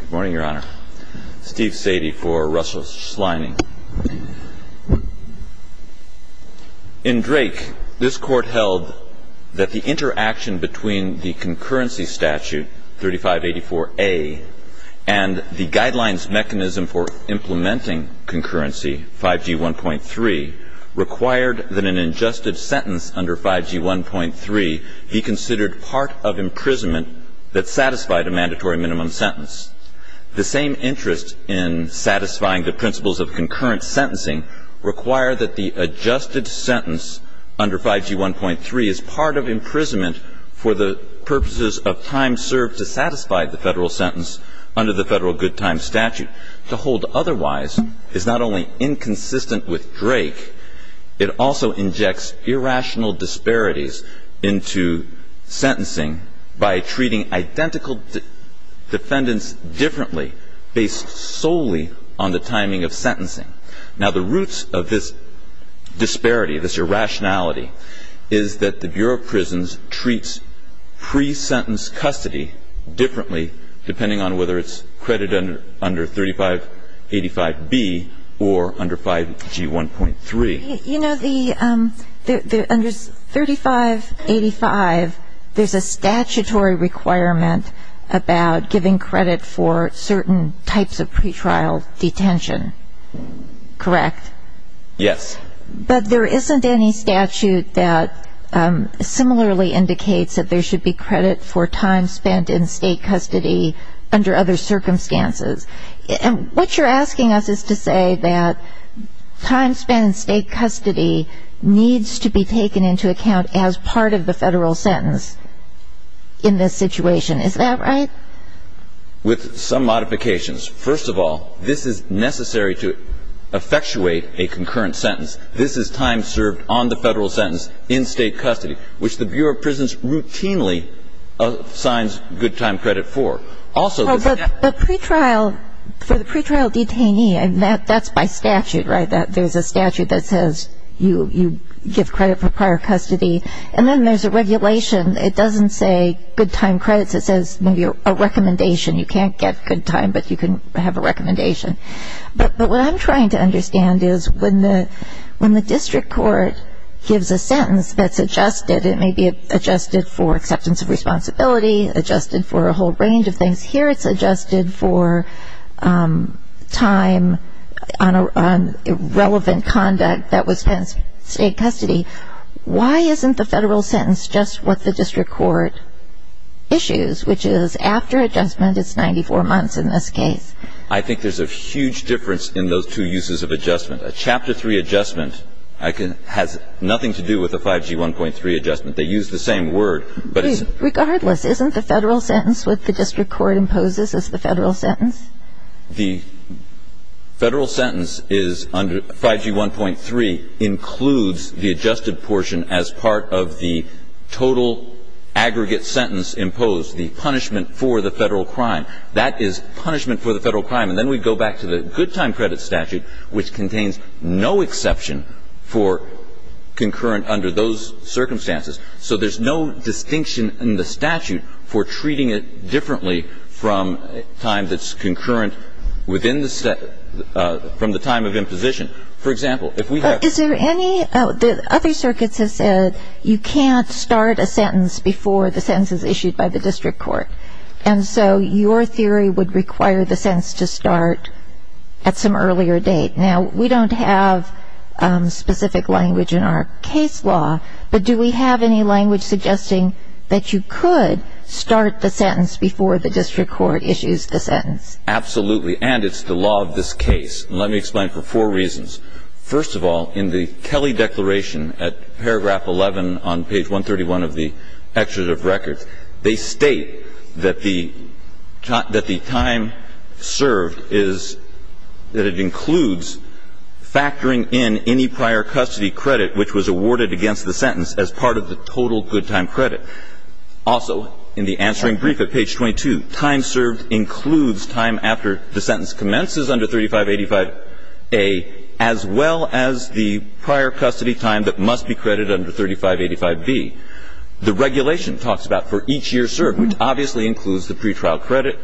Good morning, Your Honor. Steve Sadie for Russell Schleining. In Drake, this Court held that the interaction between the Concurrency Statute 3584A and the Guidelines Mechanism for Implementing Concurrency, 5G 1.3, required that an adjusted sentence under 5G 1.3 be considered part of imprisonment that satisfied a mandatory minimum sentence. The same interest in satisfying the principles of concurrent sentencing required that the adjusted sentence under 5G 1.3 as part of imprisonment for the purposes of time served to satisfy the Federal sentence under the Federal Good Time Statute to hold otherwise is not only inconsistent with Drake, it also injects irrational disparities into sentencing by treating identical defendants differently based solely on the timing of sentencing. Now the roots of this disparity, this irrationality, is that the Bureau of Prisons treats pre-sentence custody differently depending on whether it's credit under 3585B or under 5G 1.3. You know, under 3585, there's a statutory requirement about giving credit for certain types of pretrial detention, correct? Yes. But there isn't any statute that similarly indicates that there should be credit for time spent in state custody under other circumstances. And what you're asking us is to say that time spent in state custody needs to be taken into account as part of the Federal sentence in this situation. Is that right? With some modifications. First of all, this is necessary to effectuate a concurrent sentence. This is time served on the Federal sentence in state custody, which the Bureau of Prisons routinely assigns good time credit for. Also the pre-trial, for the pre-trial detainee, that's by statute, right? There's a statute that says you give credit for prior custody. And then there's a regulation. It doesn't say good time credits. It says maybe a recommendation. You can't get good time, but you can have a recommendation. But what I'm trying to understand is when the district court gives a sentence that's adjusted, it may be adjusted for acceptance of responsibility, adjusted for a whole range of things. Here it's adjusted for time on irrelevant conduct that was spent in state custody. Why isn't the Federal sentence just what the district court issues, which is after adjustment, it's 94 months in this case? I think there's a huge difference in those two uses of adjustment. A Chapter 3 adjustment has nothing to do with a 5G1.3 adjustment. They use the same word, but it's the same. Regardless, isn't the Federal sentence what the district court imposes as the Federal sentence? The Federal sentence is under 5G1.3 includes the adjusted portion as part of the total aggregate sentence imposed, the punishment for the Federal crime. That is punishment for the Federal crime. And then we go back to the good time credit statute, which contains no exception for concurrent under those circumstances. So there's no distinction in the statute for treating it differently from time that's concurrent from the time of imposition. For example, if we have... Is there any... The other circuits have said you can't start a sentence before the sentence is issued by the district court. And so your theory would require the sentence to start at some earlier date. Now, we don't have specific language in our case law, but do we have any language suggesting that you could start the sentence before the district court issues the sentence? Absolutely. And it's the law of this case. Let me explain for four reasons. First of all, in the Kelly Declaration at paragraph 11 on page 131 of the Executive Records, they state that the time served is that it includes factoring in any prior custody credit which was awarded against the sentence as part of the total good time credit. Also, in the answering brief at page 22, time served includes time after the sentence commences under 3585A as well as the prior custody time that must be credited under 3585B. The regulation talks about for each year served, which obviously includes the pretrial credit.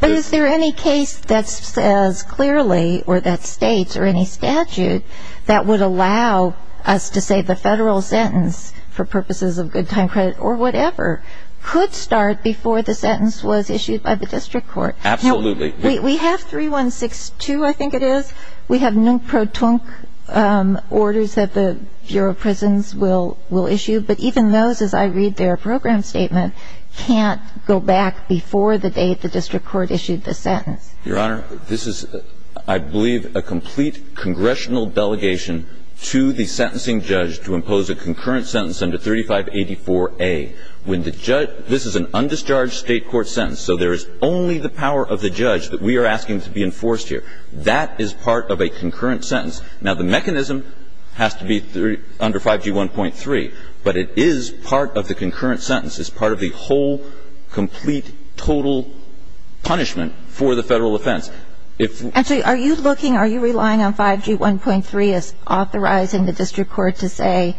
But is there any case that says clearly or that states or any statute that would allow us to say the federal sentence for purposes of good time credit or whatever could start before the sentence was issued by the district court? Absolutely. We have 3162, I think it is. We have nunc pro tunc orders that the Bureau of Prisons will issue. But even those, as I read their program statement, can't go back before the date the district court issued the sentence. Your Honor, this is, I believe, a complete congressional delegation to the sentencing judge to impose a concurrent sentence under 3584A. This is an undischarged state court sentence, so there is only the power of the judge that we are asking to be enforced here. That is part of a concurrent sentence. Now, the mechanism has to be under 5G1.3, but it is part of the concurrent sentence. It's part of the whole complete total punishment for the federal offense. Actually, are you looking, are you relying on 5G1.3 as authorizing the district court to say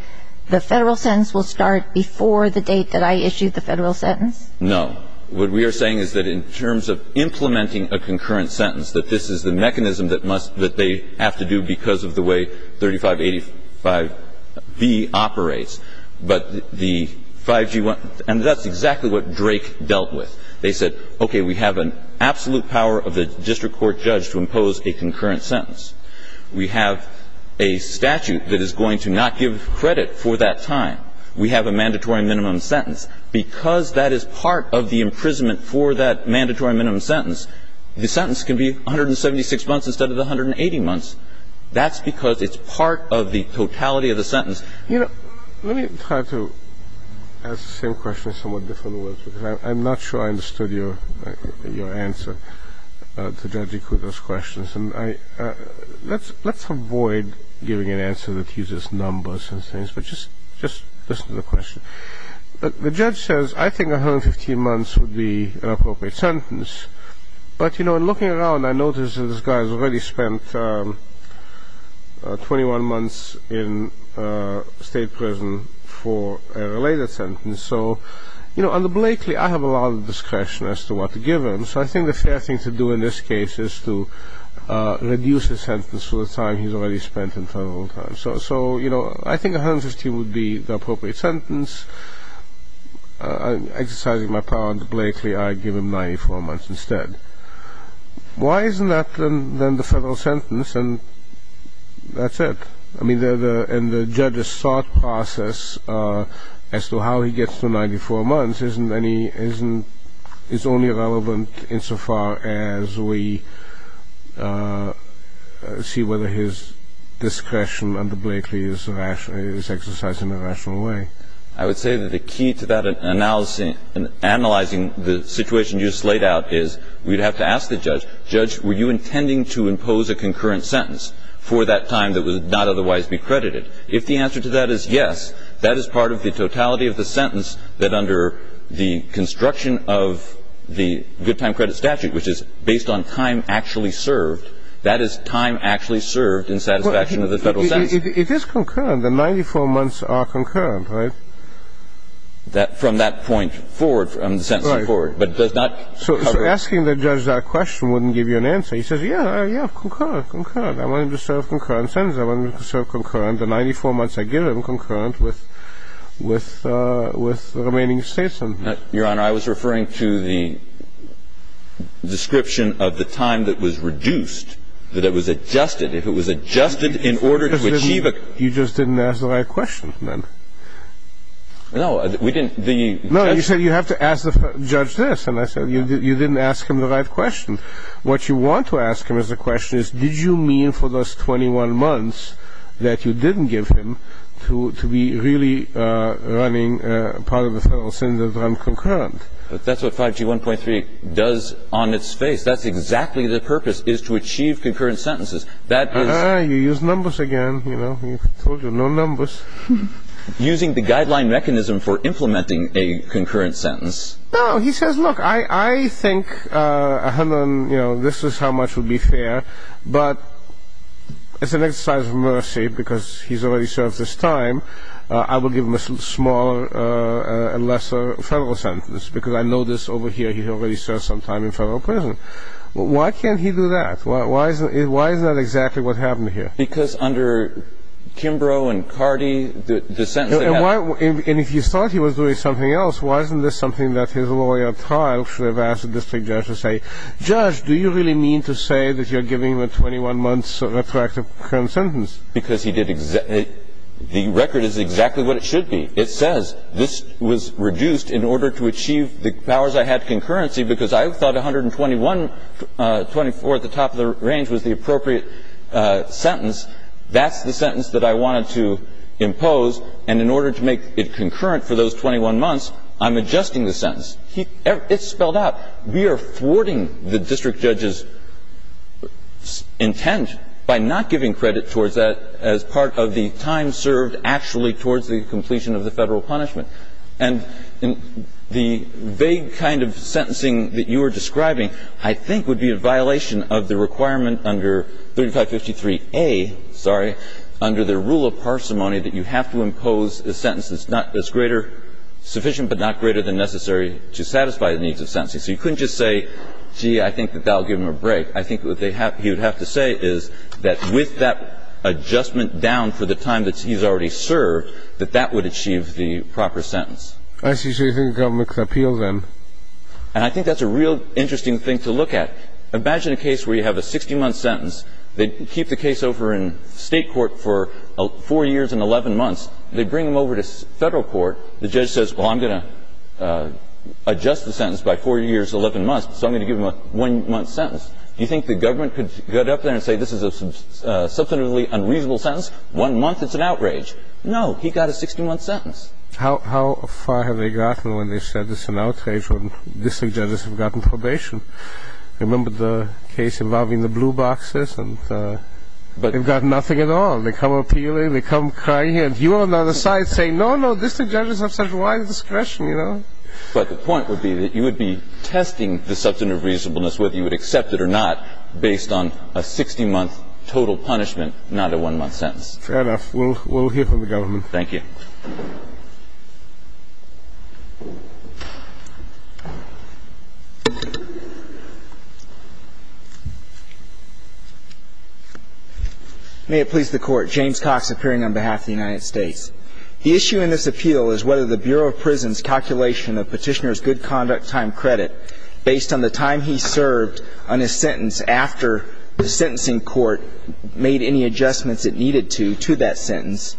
the federal sentence will start before the date that I issued the federal sentence? No. What we are saying is that in terms of implementing a concurrent sentence, that this is the mechanism that must, that they have to do because of the way 3585B operates, but the 5G1, and that's exactly what Drake dealt with. They said, okay, we have an absolute power of the district court judge to impose a concurrent sentence. We have a statute that is going to not give credit for that time. We have a mandatory minimum sentence. Because that is part of the imprisonment for that mandatory minimum sentence, the sentence can be 176 months instead of the 180 months. That's because it's part of the totality of the sentence. You know, let me try to ask the same question in somewhat different words because I'm not sure I understood your answer to Judge Ikuto's questions. Let's avoid giving an answer that uses numbers and things, but just listen to the question. The judge says, I think 115 months would be an appropriate sentence. But, you know, in looking around, I noticed that this guy has already spent 21 months in state prison for a related sentence. So, you know, under Blakely, I have a lot of discretion as to what to give him. So I think the fair thing to do in this case is to reduce his sentence for the time he's already spent in federal prison. So, you know, I think 115 would be the appropriate sentence. Exercising my power under Blakely, I give him 94 months instead. Why isn't that then the federal sentence, and that's it? I mean, in the judge's thought process as to how he gets to 94 months is only relevant insofar as we see whether his discretion under Blakely is exercised in a rational way. I would say that the key to that analysis and analyzing the situation you just laid out is we'd have to ask the judge, Judge, were you intending to impose a concurrent sentence for that time that would not otherwise be credited? If the answer to that is yes, that is part of the totality of the sentence that under the construction of the good time credit statute, which is based on time actually served, that is time actually served in satisfaction of the federal sentence. It is concurrent. The 94 months are concurrent, right? From that point forward, from the sentence forward. Right. But it does not cover... So asking the judge that question wouldn't give you an answer. He says, yeah, yeah, concurrent, concurrent. I want him to serve concurrent sentences. I want him to serve concurrent. The 94 months I give him are concurrent with the remaining states. Your Honor, I was referring to the description of the time that was reduced, that it was adjusted. If it was adjusted in order to achieve a... You just didn't ask the right question then. No, we didn't. No, you said you have to judge this. And I said you didn't ask him the right question. What you want to ask him as a question is did you mean for those 21 months that you didn't give him to be really running part of the federal sentence concurrent? But that's what 5G 1.3 does on its face. That's exactly the purpose, is to achieve concurrent sentences. That is... Ah, you used numbers again, you know. I told you, no numbers. Using the guideline mechanism for implementing a concurrent sentence. No, he says, look, I think, you know, this is how much would be fair, but it's an exercise of mercy because he's already served this time. I will give him a smaller and lesser federal sentence because I know this over here, he's already served some time in federal prison. Why can't he do that? Why is that exactly what happened here? Because under Kimbrough and Cardi, the sentence... And if you thought he was doing something else, why isn't this something that his lawyer should have asked the district judge to say? Judge, do you really mean to say that you're giving him a 21-month retroactive concurrent sentence? Because he did exactly... The record is exactly what it should be. It says this was reduced in order to achieve the powers I had concurrency because I thought 121.24 at the top of the range was the appropriate sentence. That's the sentence that I wanted to impose. And in order to make it concurrent for those 21 months, I'm adjusting the sentence. It's spelled out. We are thwarting the district judge's intent by not giving credit towards that as part of the time served actually towards the completion of the federal punishment. And the vague kind of sentencing that you are describing I think would be a violation of the requirement under 3553A, sorry, under the rule of parsimony that you have to impose a sentence that's greater, sufficient but not greater than necessary to satisfy the needs of sentencing. So you couldn't just say, gee, I think that that will give him a break. I think what he would have to say is that with that adjustment down for the time that he's already served, that that would achieve the proper sentence. I see. So you think the government could appeal then? And I think that's a real interesting thing to look at. Imagine a case where you have a 60-month sentence. They keep the case over in State court for 4 years and 11 months. They bring them over to Federal court. The judge says, well, I'm going to adjust the sentence by 4 years, 11 months, so I'm going to give him a 1-month sentence. Do you think the government could get up there and say this is a substantively unreasonable sentence? One month is an outrage. No. He got a 60-month sentence. How far have they gotten when they said it's an outrage when district judges have gotten probation? Remember the case involving the blue boxes? They've got nothing at all. They come appealing. They come crying in. You on the other side say, no, no, district judges have such wide discretion. But the point would be that you would be testing the substantive reasonableness, whether you would accept it or not, based on a 60-month total punishment, not a 1-month sentence. Fair enough. We'll hear from the government. Thank you. May it please the Court. James Cox, appearing on behalf of the United States. The issue in this appeal is whether the Bureau of Prisons' calculation of Petitioner's good conduct time credit, based on the time he served on his sentence after the sentencing court made any adjustments it needed to to that sentence,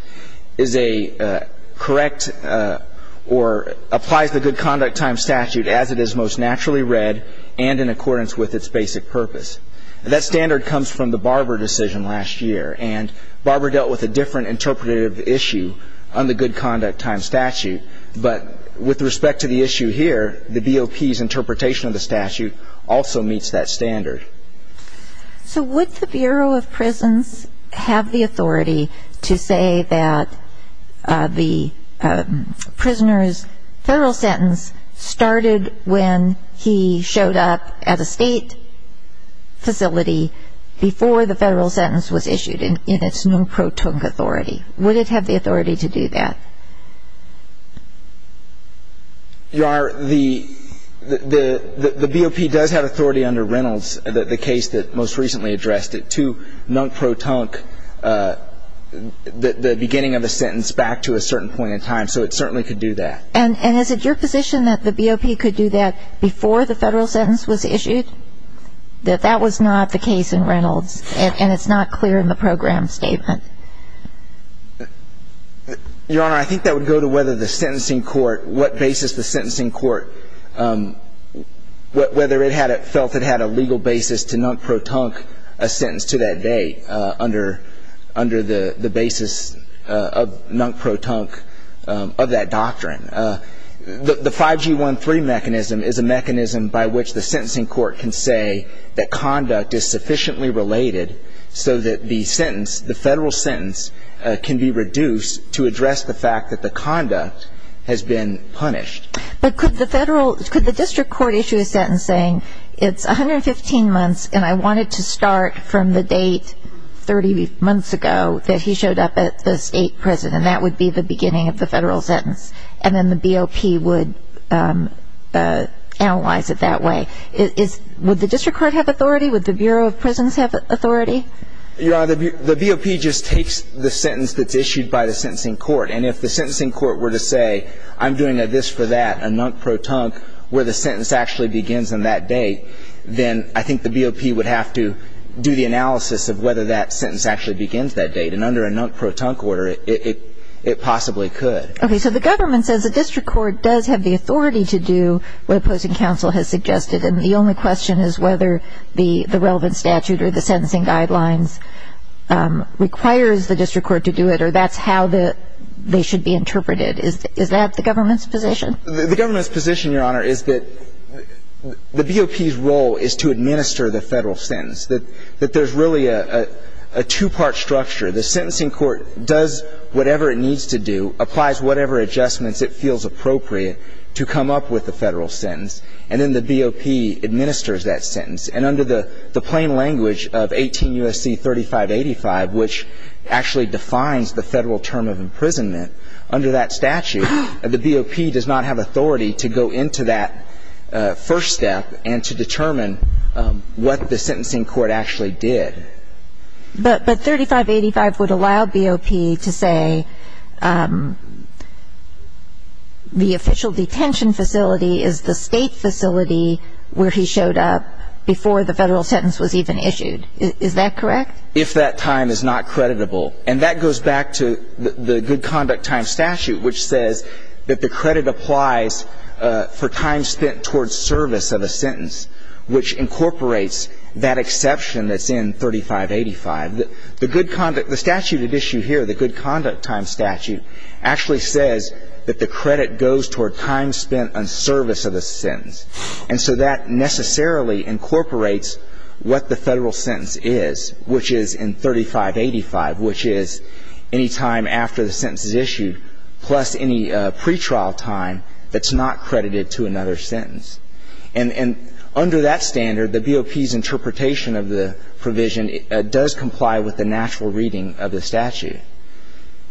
is a correct or applies the good conduct time statute as it is most naturally read and applies in accordance with its basic purpose. That standard comes from the Barber decision last year. And Barber dealt with a different interpretive issue on the good conduct time statute. But with respect to the issue here, the BOP's interpretation of the statute also meets that standard. So would the Bureau of Prisons have the authority to say that the prisoner's sentence was issued in its non-pro-tunc authority? Would it have the authority to do that? Your Honor, the BOP does have authority under Reynolds, the case that most recently addressed it, to non-pro-tunc the beginning of a sentence back to a certain point in time. So it certainly could do that. And is it your position that the BOP could do that before the federal sentence was issued, that that was not the case in Reynolds, and it's not clear in the program statement? Your Honor, I think that would go to whether the sentencing court, what basis the sentencing court, whether it felt it had a legal basis to non-pro-tunc a sentence to that date under the basis of non-pro-tunc of that doctrine. The 5G13 mechanism is a mechanism by which the sentencing court can say that conduct is sufficiently related so that the sentence, the federal sentence, can be reduced to address the fact that the conduct has been punished. But could the district court issue a sentence saying it's 115 months and I wanted to start from the date 30 months ago that he showed up at the state prison, and that would be the beginning of the federal sentence? And then the BOP would analyze it that way. Would the district court have authority? Would the Bureau of Prisons have authority? Your Honor, the BOP just takes the sentence that's issued by the sentencing court. And if the sentencing court were to say, I'm doing a this for that, a non-pro-tunc, where the sentence actually begins on that date, then I think the BOP would have to do the analysis of whether that sentence actually begins that date. And under a non-pro-tunc order, it possibly could. Okay, so the government says the district court does have the authority to do what opposing counsel has suggested, and the only question is whether the relevant statute or the sentencing guidelines requires the district court to do it, or that's how they should be interpreted. Is that the government's position? The government's position, Your Honor, is that the BOP's role is to administer the federal sentence, that there's really a two-part structure. The sentencing court does whatever it needs to do, applies whatever adjustments it feels appropriate to come up with a federal sentence, and then the BOP administers that sentence. And under the plain language of 18 U.S.C. 3585, which actually defines the federal term of imprisonment, under that statute, the BOP does not have authority to go into that first step and to determine what the sentencing court actually did. But 3585 would allow BOP to say the official detention facility is the state facility where he showed up before the federal sentence was even issued. Is that correct? If that time is not creditable. And that goes back to the good conduct time statute, which says that the credit applies for time spent towards service of a sentence, which incorporates that exception that's in 3585. The good conduct – the statute at issue here, the good conduct time statute, actually says that the credit goes toward time spent on service of a sentence. And so that necessarily incorporates what the federal sentence is, which is in 3585, which is any time after the sentence is issued, plus any pretrial time that's not credited to another sentence. And under that standard, the BOP's interpretation of the provision does comply with the natural reading of the statute.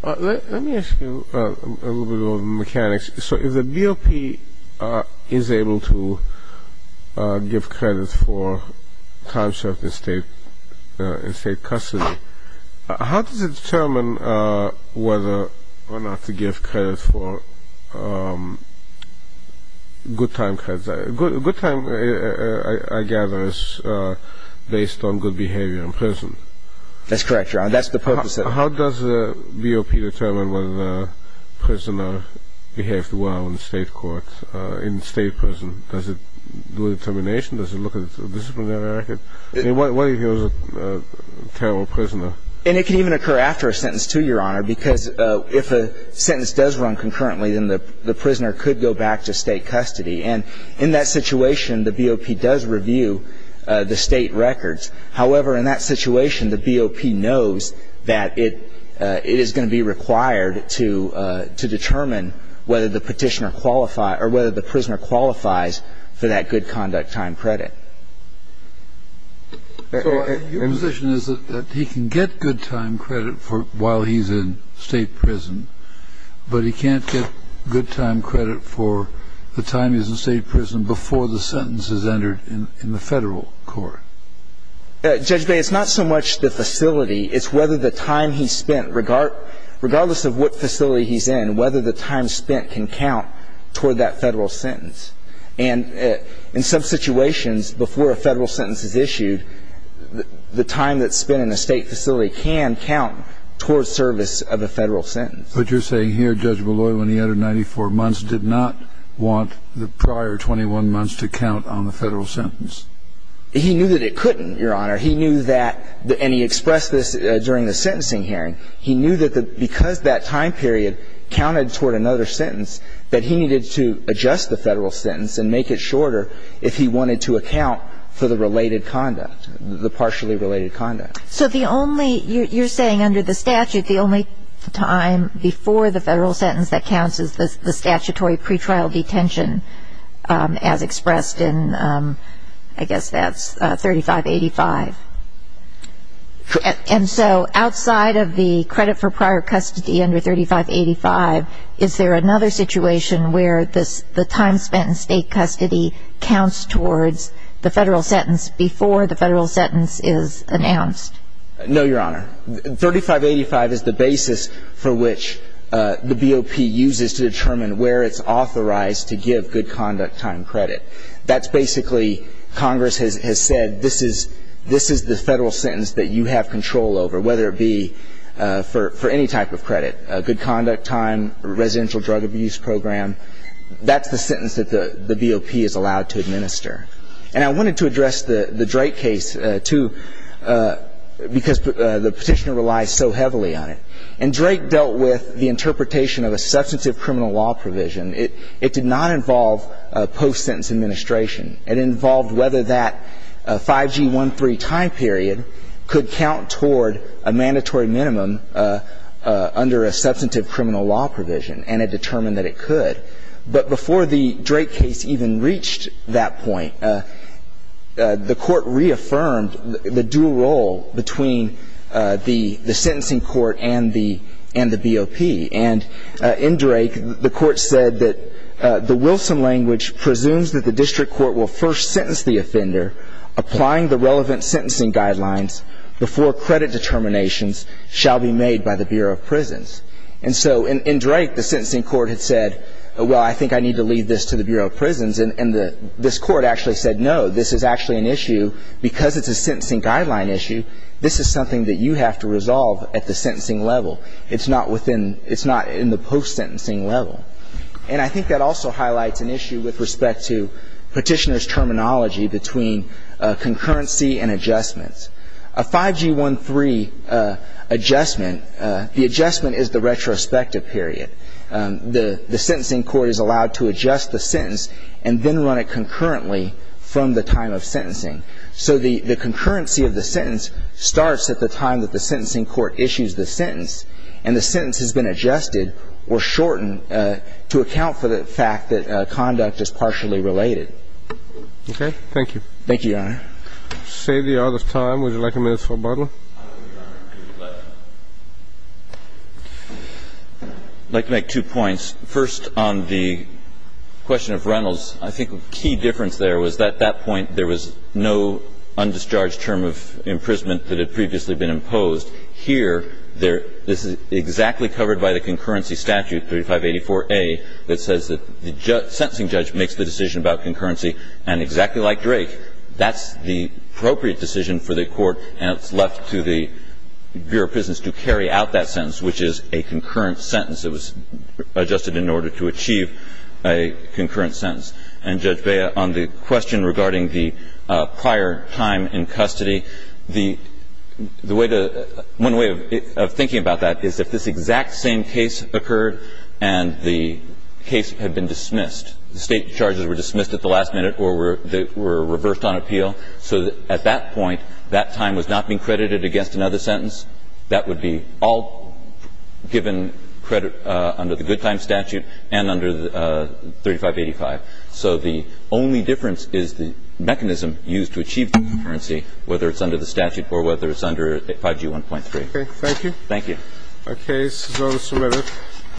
Let me ask you a little bit about the mechanics. So if the BOP is able to give credit for time served in State custody, how does it determine whether or not to give credit for good time credits? Good time, I gather, is based on good behavior in prison. That's correct, Your Honor. That's the purpose of it. How does the BOP determine whether the prisoner behaved well in the State court, in State prison? Does it do a determination? Does it look at disciplinary record? What if he was a terrible prisoner? And it can even occur after a sentence, too, Your Honor, because if a sentence does run concurrently, then the prisoner could go back to State custody. And in that situation, the BOP does review the State records. However, in that situation, the BOP knows that it is going to be required to determine whether the petitioner qualifies or whether the prisoner qualifies for that good conduct time credit. So your position is that he can get good time credit while he's in State prison. But he can't get good time credit for the time he's in State prison before the sentence is entered in the Federal court. Judge Baye, it's not so much the facility. It's whether the time he spent, regardless of what facility he's in, whether the time spent can count toward that Federal sentence. And in some situations, before a Federal sentence is issued, the time that's spent in a State facility can count toward service of a Federal sentence. But you're saying here Judge Molloy, when he entered 94 months, did not want the prior 21 months to count on the Federal sentence. He knew that it couldn't, Your Honor. He knew that, and he expressed this during the sentencing hearing. He knew that because that time period counted toward another sentence, that he needed to adjust the Federal sentence and make it shorter if he wanted to account for the related conduct, the partially related conduct. So the only, you're saying under the statute, the only time before the Federal sentence that counts is the statutory pretrial detention as expressed in, I guess that's 3585. And so outside of the credit for prior custody under 3585, is there another situation where the time spent in State custody counts towards the Federal sentence before the Federal sentence? No, Your Honor. 3585 is the basis for which the BOP uses to determine where it's authorized to give good conduct time credit. That's basically, Congress has said, this is the Federal sentence that you have control over, whether it be for any type of credit, good conduct time, residential drug abuse program. That's the sentence that the BOP is allowed to administer. And I wanted to address the Drake case, too, because the Petitioner relies so heavily on it. And Drake dealt with the interpretation of a substantive criminal law provision. It did not involve post-sentence administration. It involved whether that 5G13 time period could count toward a mandatory minimum under a substantive criminal law provision, and it determined that it could. But before the Drake case even reached that point, the Court reaffirmed the dual role between the sentencing court and the BOP. And in Drake, the Court said that the Wilson language presumes that the district court will first sentence the offender, applying the relevant sentencing guidelines before credit determinations shall be made by the Bureau of Prisons. And so in Drake, the sentencing court had said, well, I think I need to leave this to the Bureau of Prisons. And this Court actually said, no, this is actually an issue, because it's a sentencing guideline issue, this is something that you have to resolve at the sentencing level. It's not within the post-sentencing level. And I think that also highlights an issue with respect to Petitioner's terminology between concurrency and adjustments. A 5G13 adjustment, the adjustment is the retrospective period. The sentencing court is allowed to adjust the sentence and then run it concurrently from the time of sentencing. So the concurrency of the sentence starts at the time that the sentencing court issues the sentence, and the sentence has been adjusted or shortened to account for the fact that conduct is partially related. Okay. Thank you. Thank you, Your Honor. Save the order of time. Would you like a minute for rebuttal? I would like to make two points. First, on the question of Reynolds, I think a key difference there was at that point there was no undischarged term of imprisonment that had previously been imposed. Here, this is exactly covered by the concurrency statute, 3584A, that says that the sentencing judge makes the decision about concurrency. And exactly like Drake, that's the appropriate decision for the court, and it's left to the Bureau of Prisons to carry out that sentence, which is a concurrent sentence that was adjusted in order to achieve a concurrent sentence. And, Judge Bea, on the question regarding the prior time in custody, the way to – one way of thinking about that is if this exact same case occurred and the case had been reversed on appeal, so at that point, that time was not being credited against another sentence, that would be all given credit under the good time statute and under 3585. So the only difference is the mechanism used to achieve concurrency, whether it's under the statute or whether it's under 5G1.3. Okay. Thank you.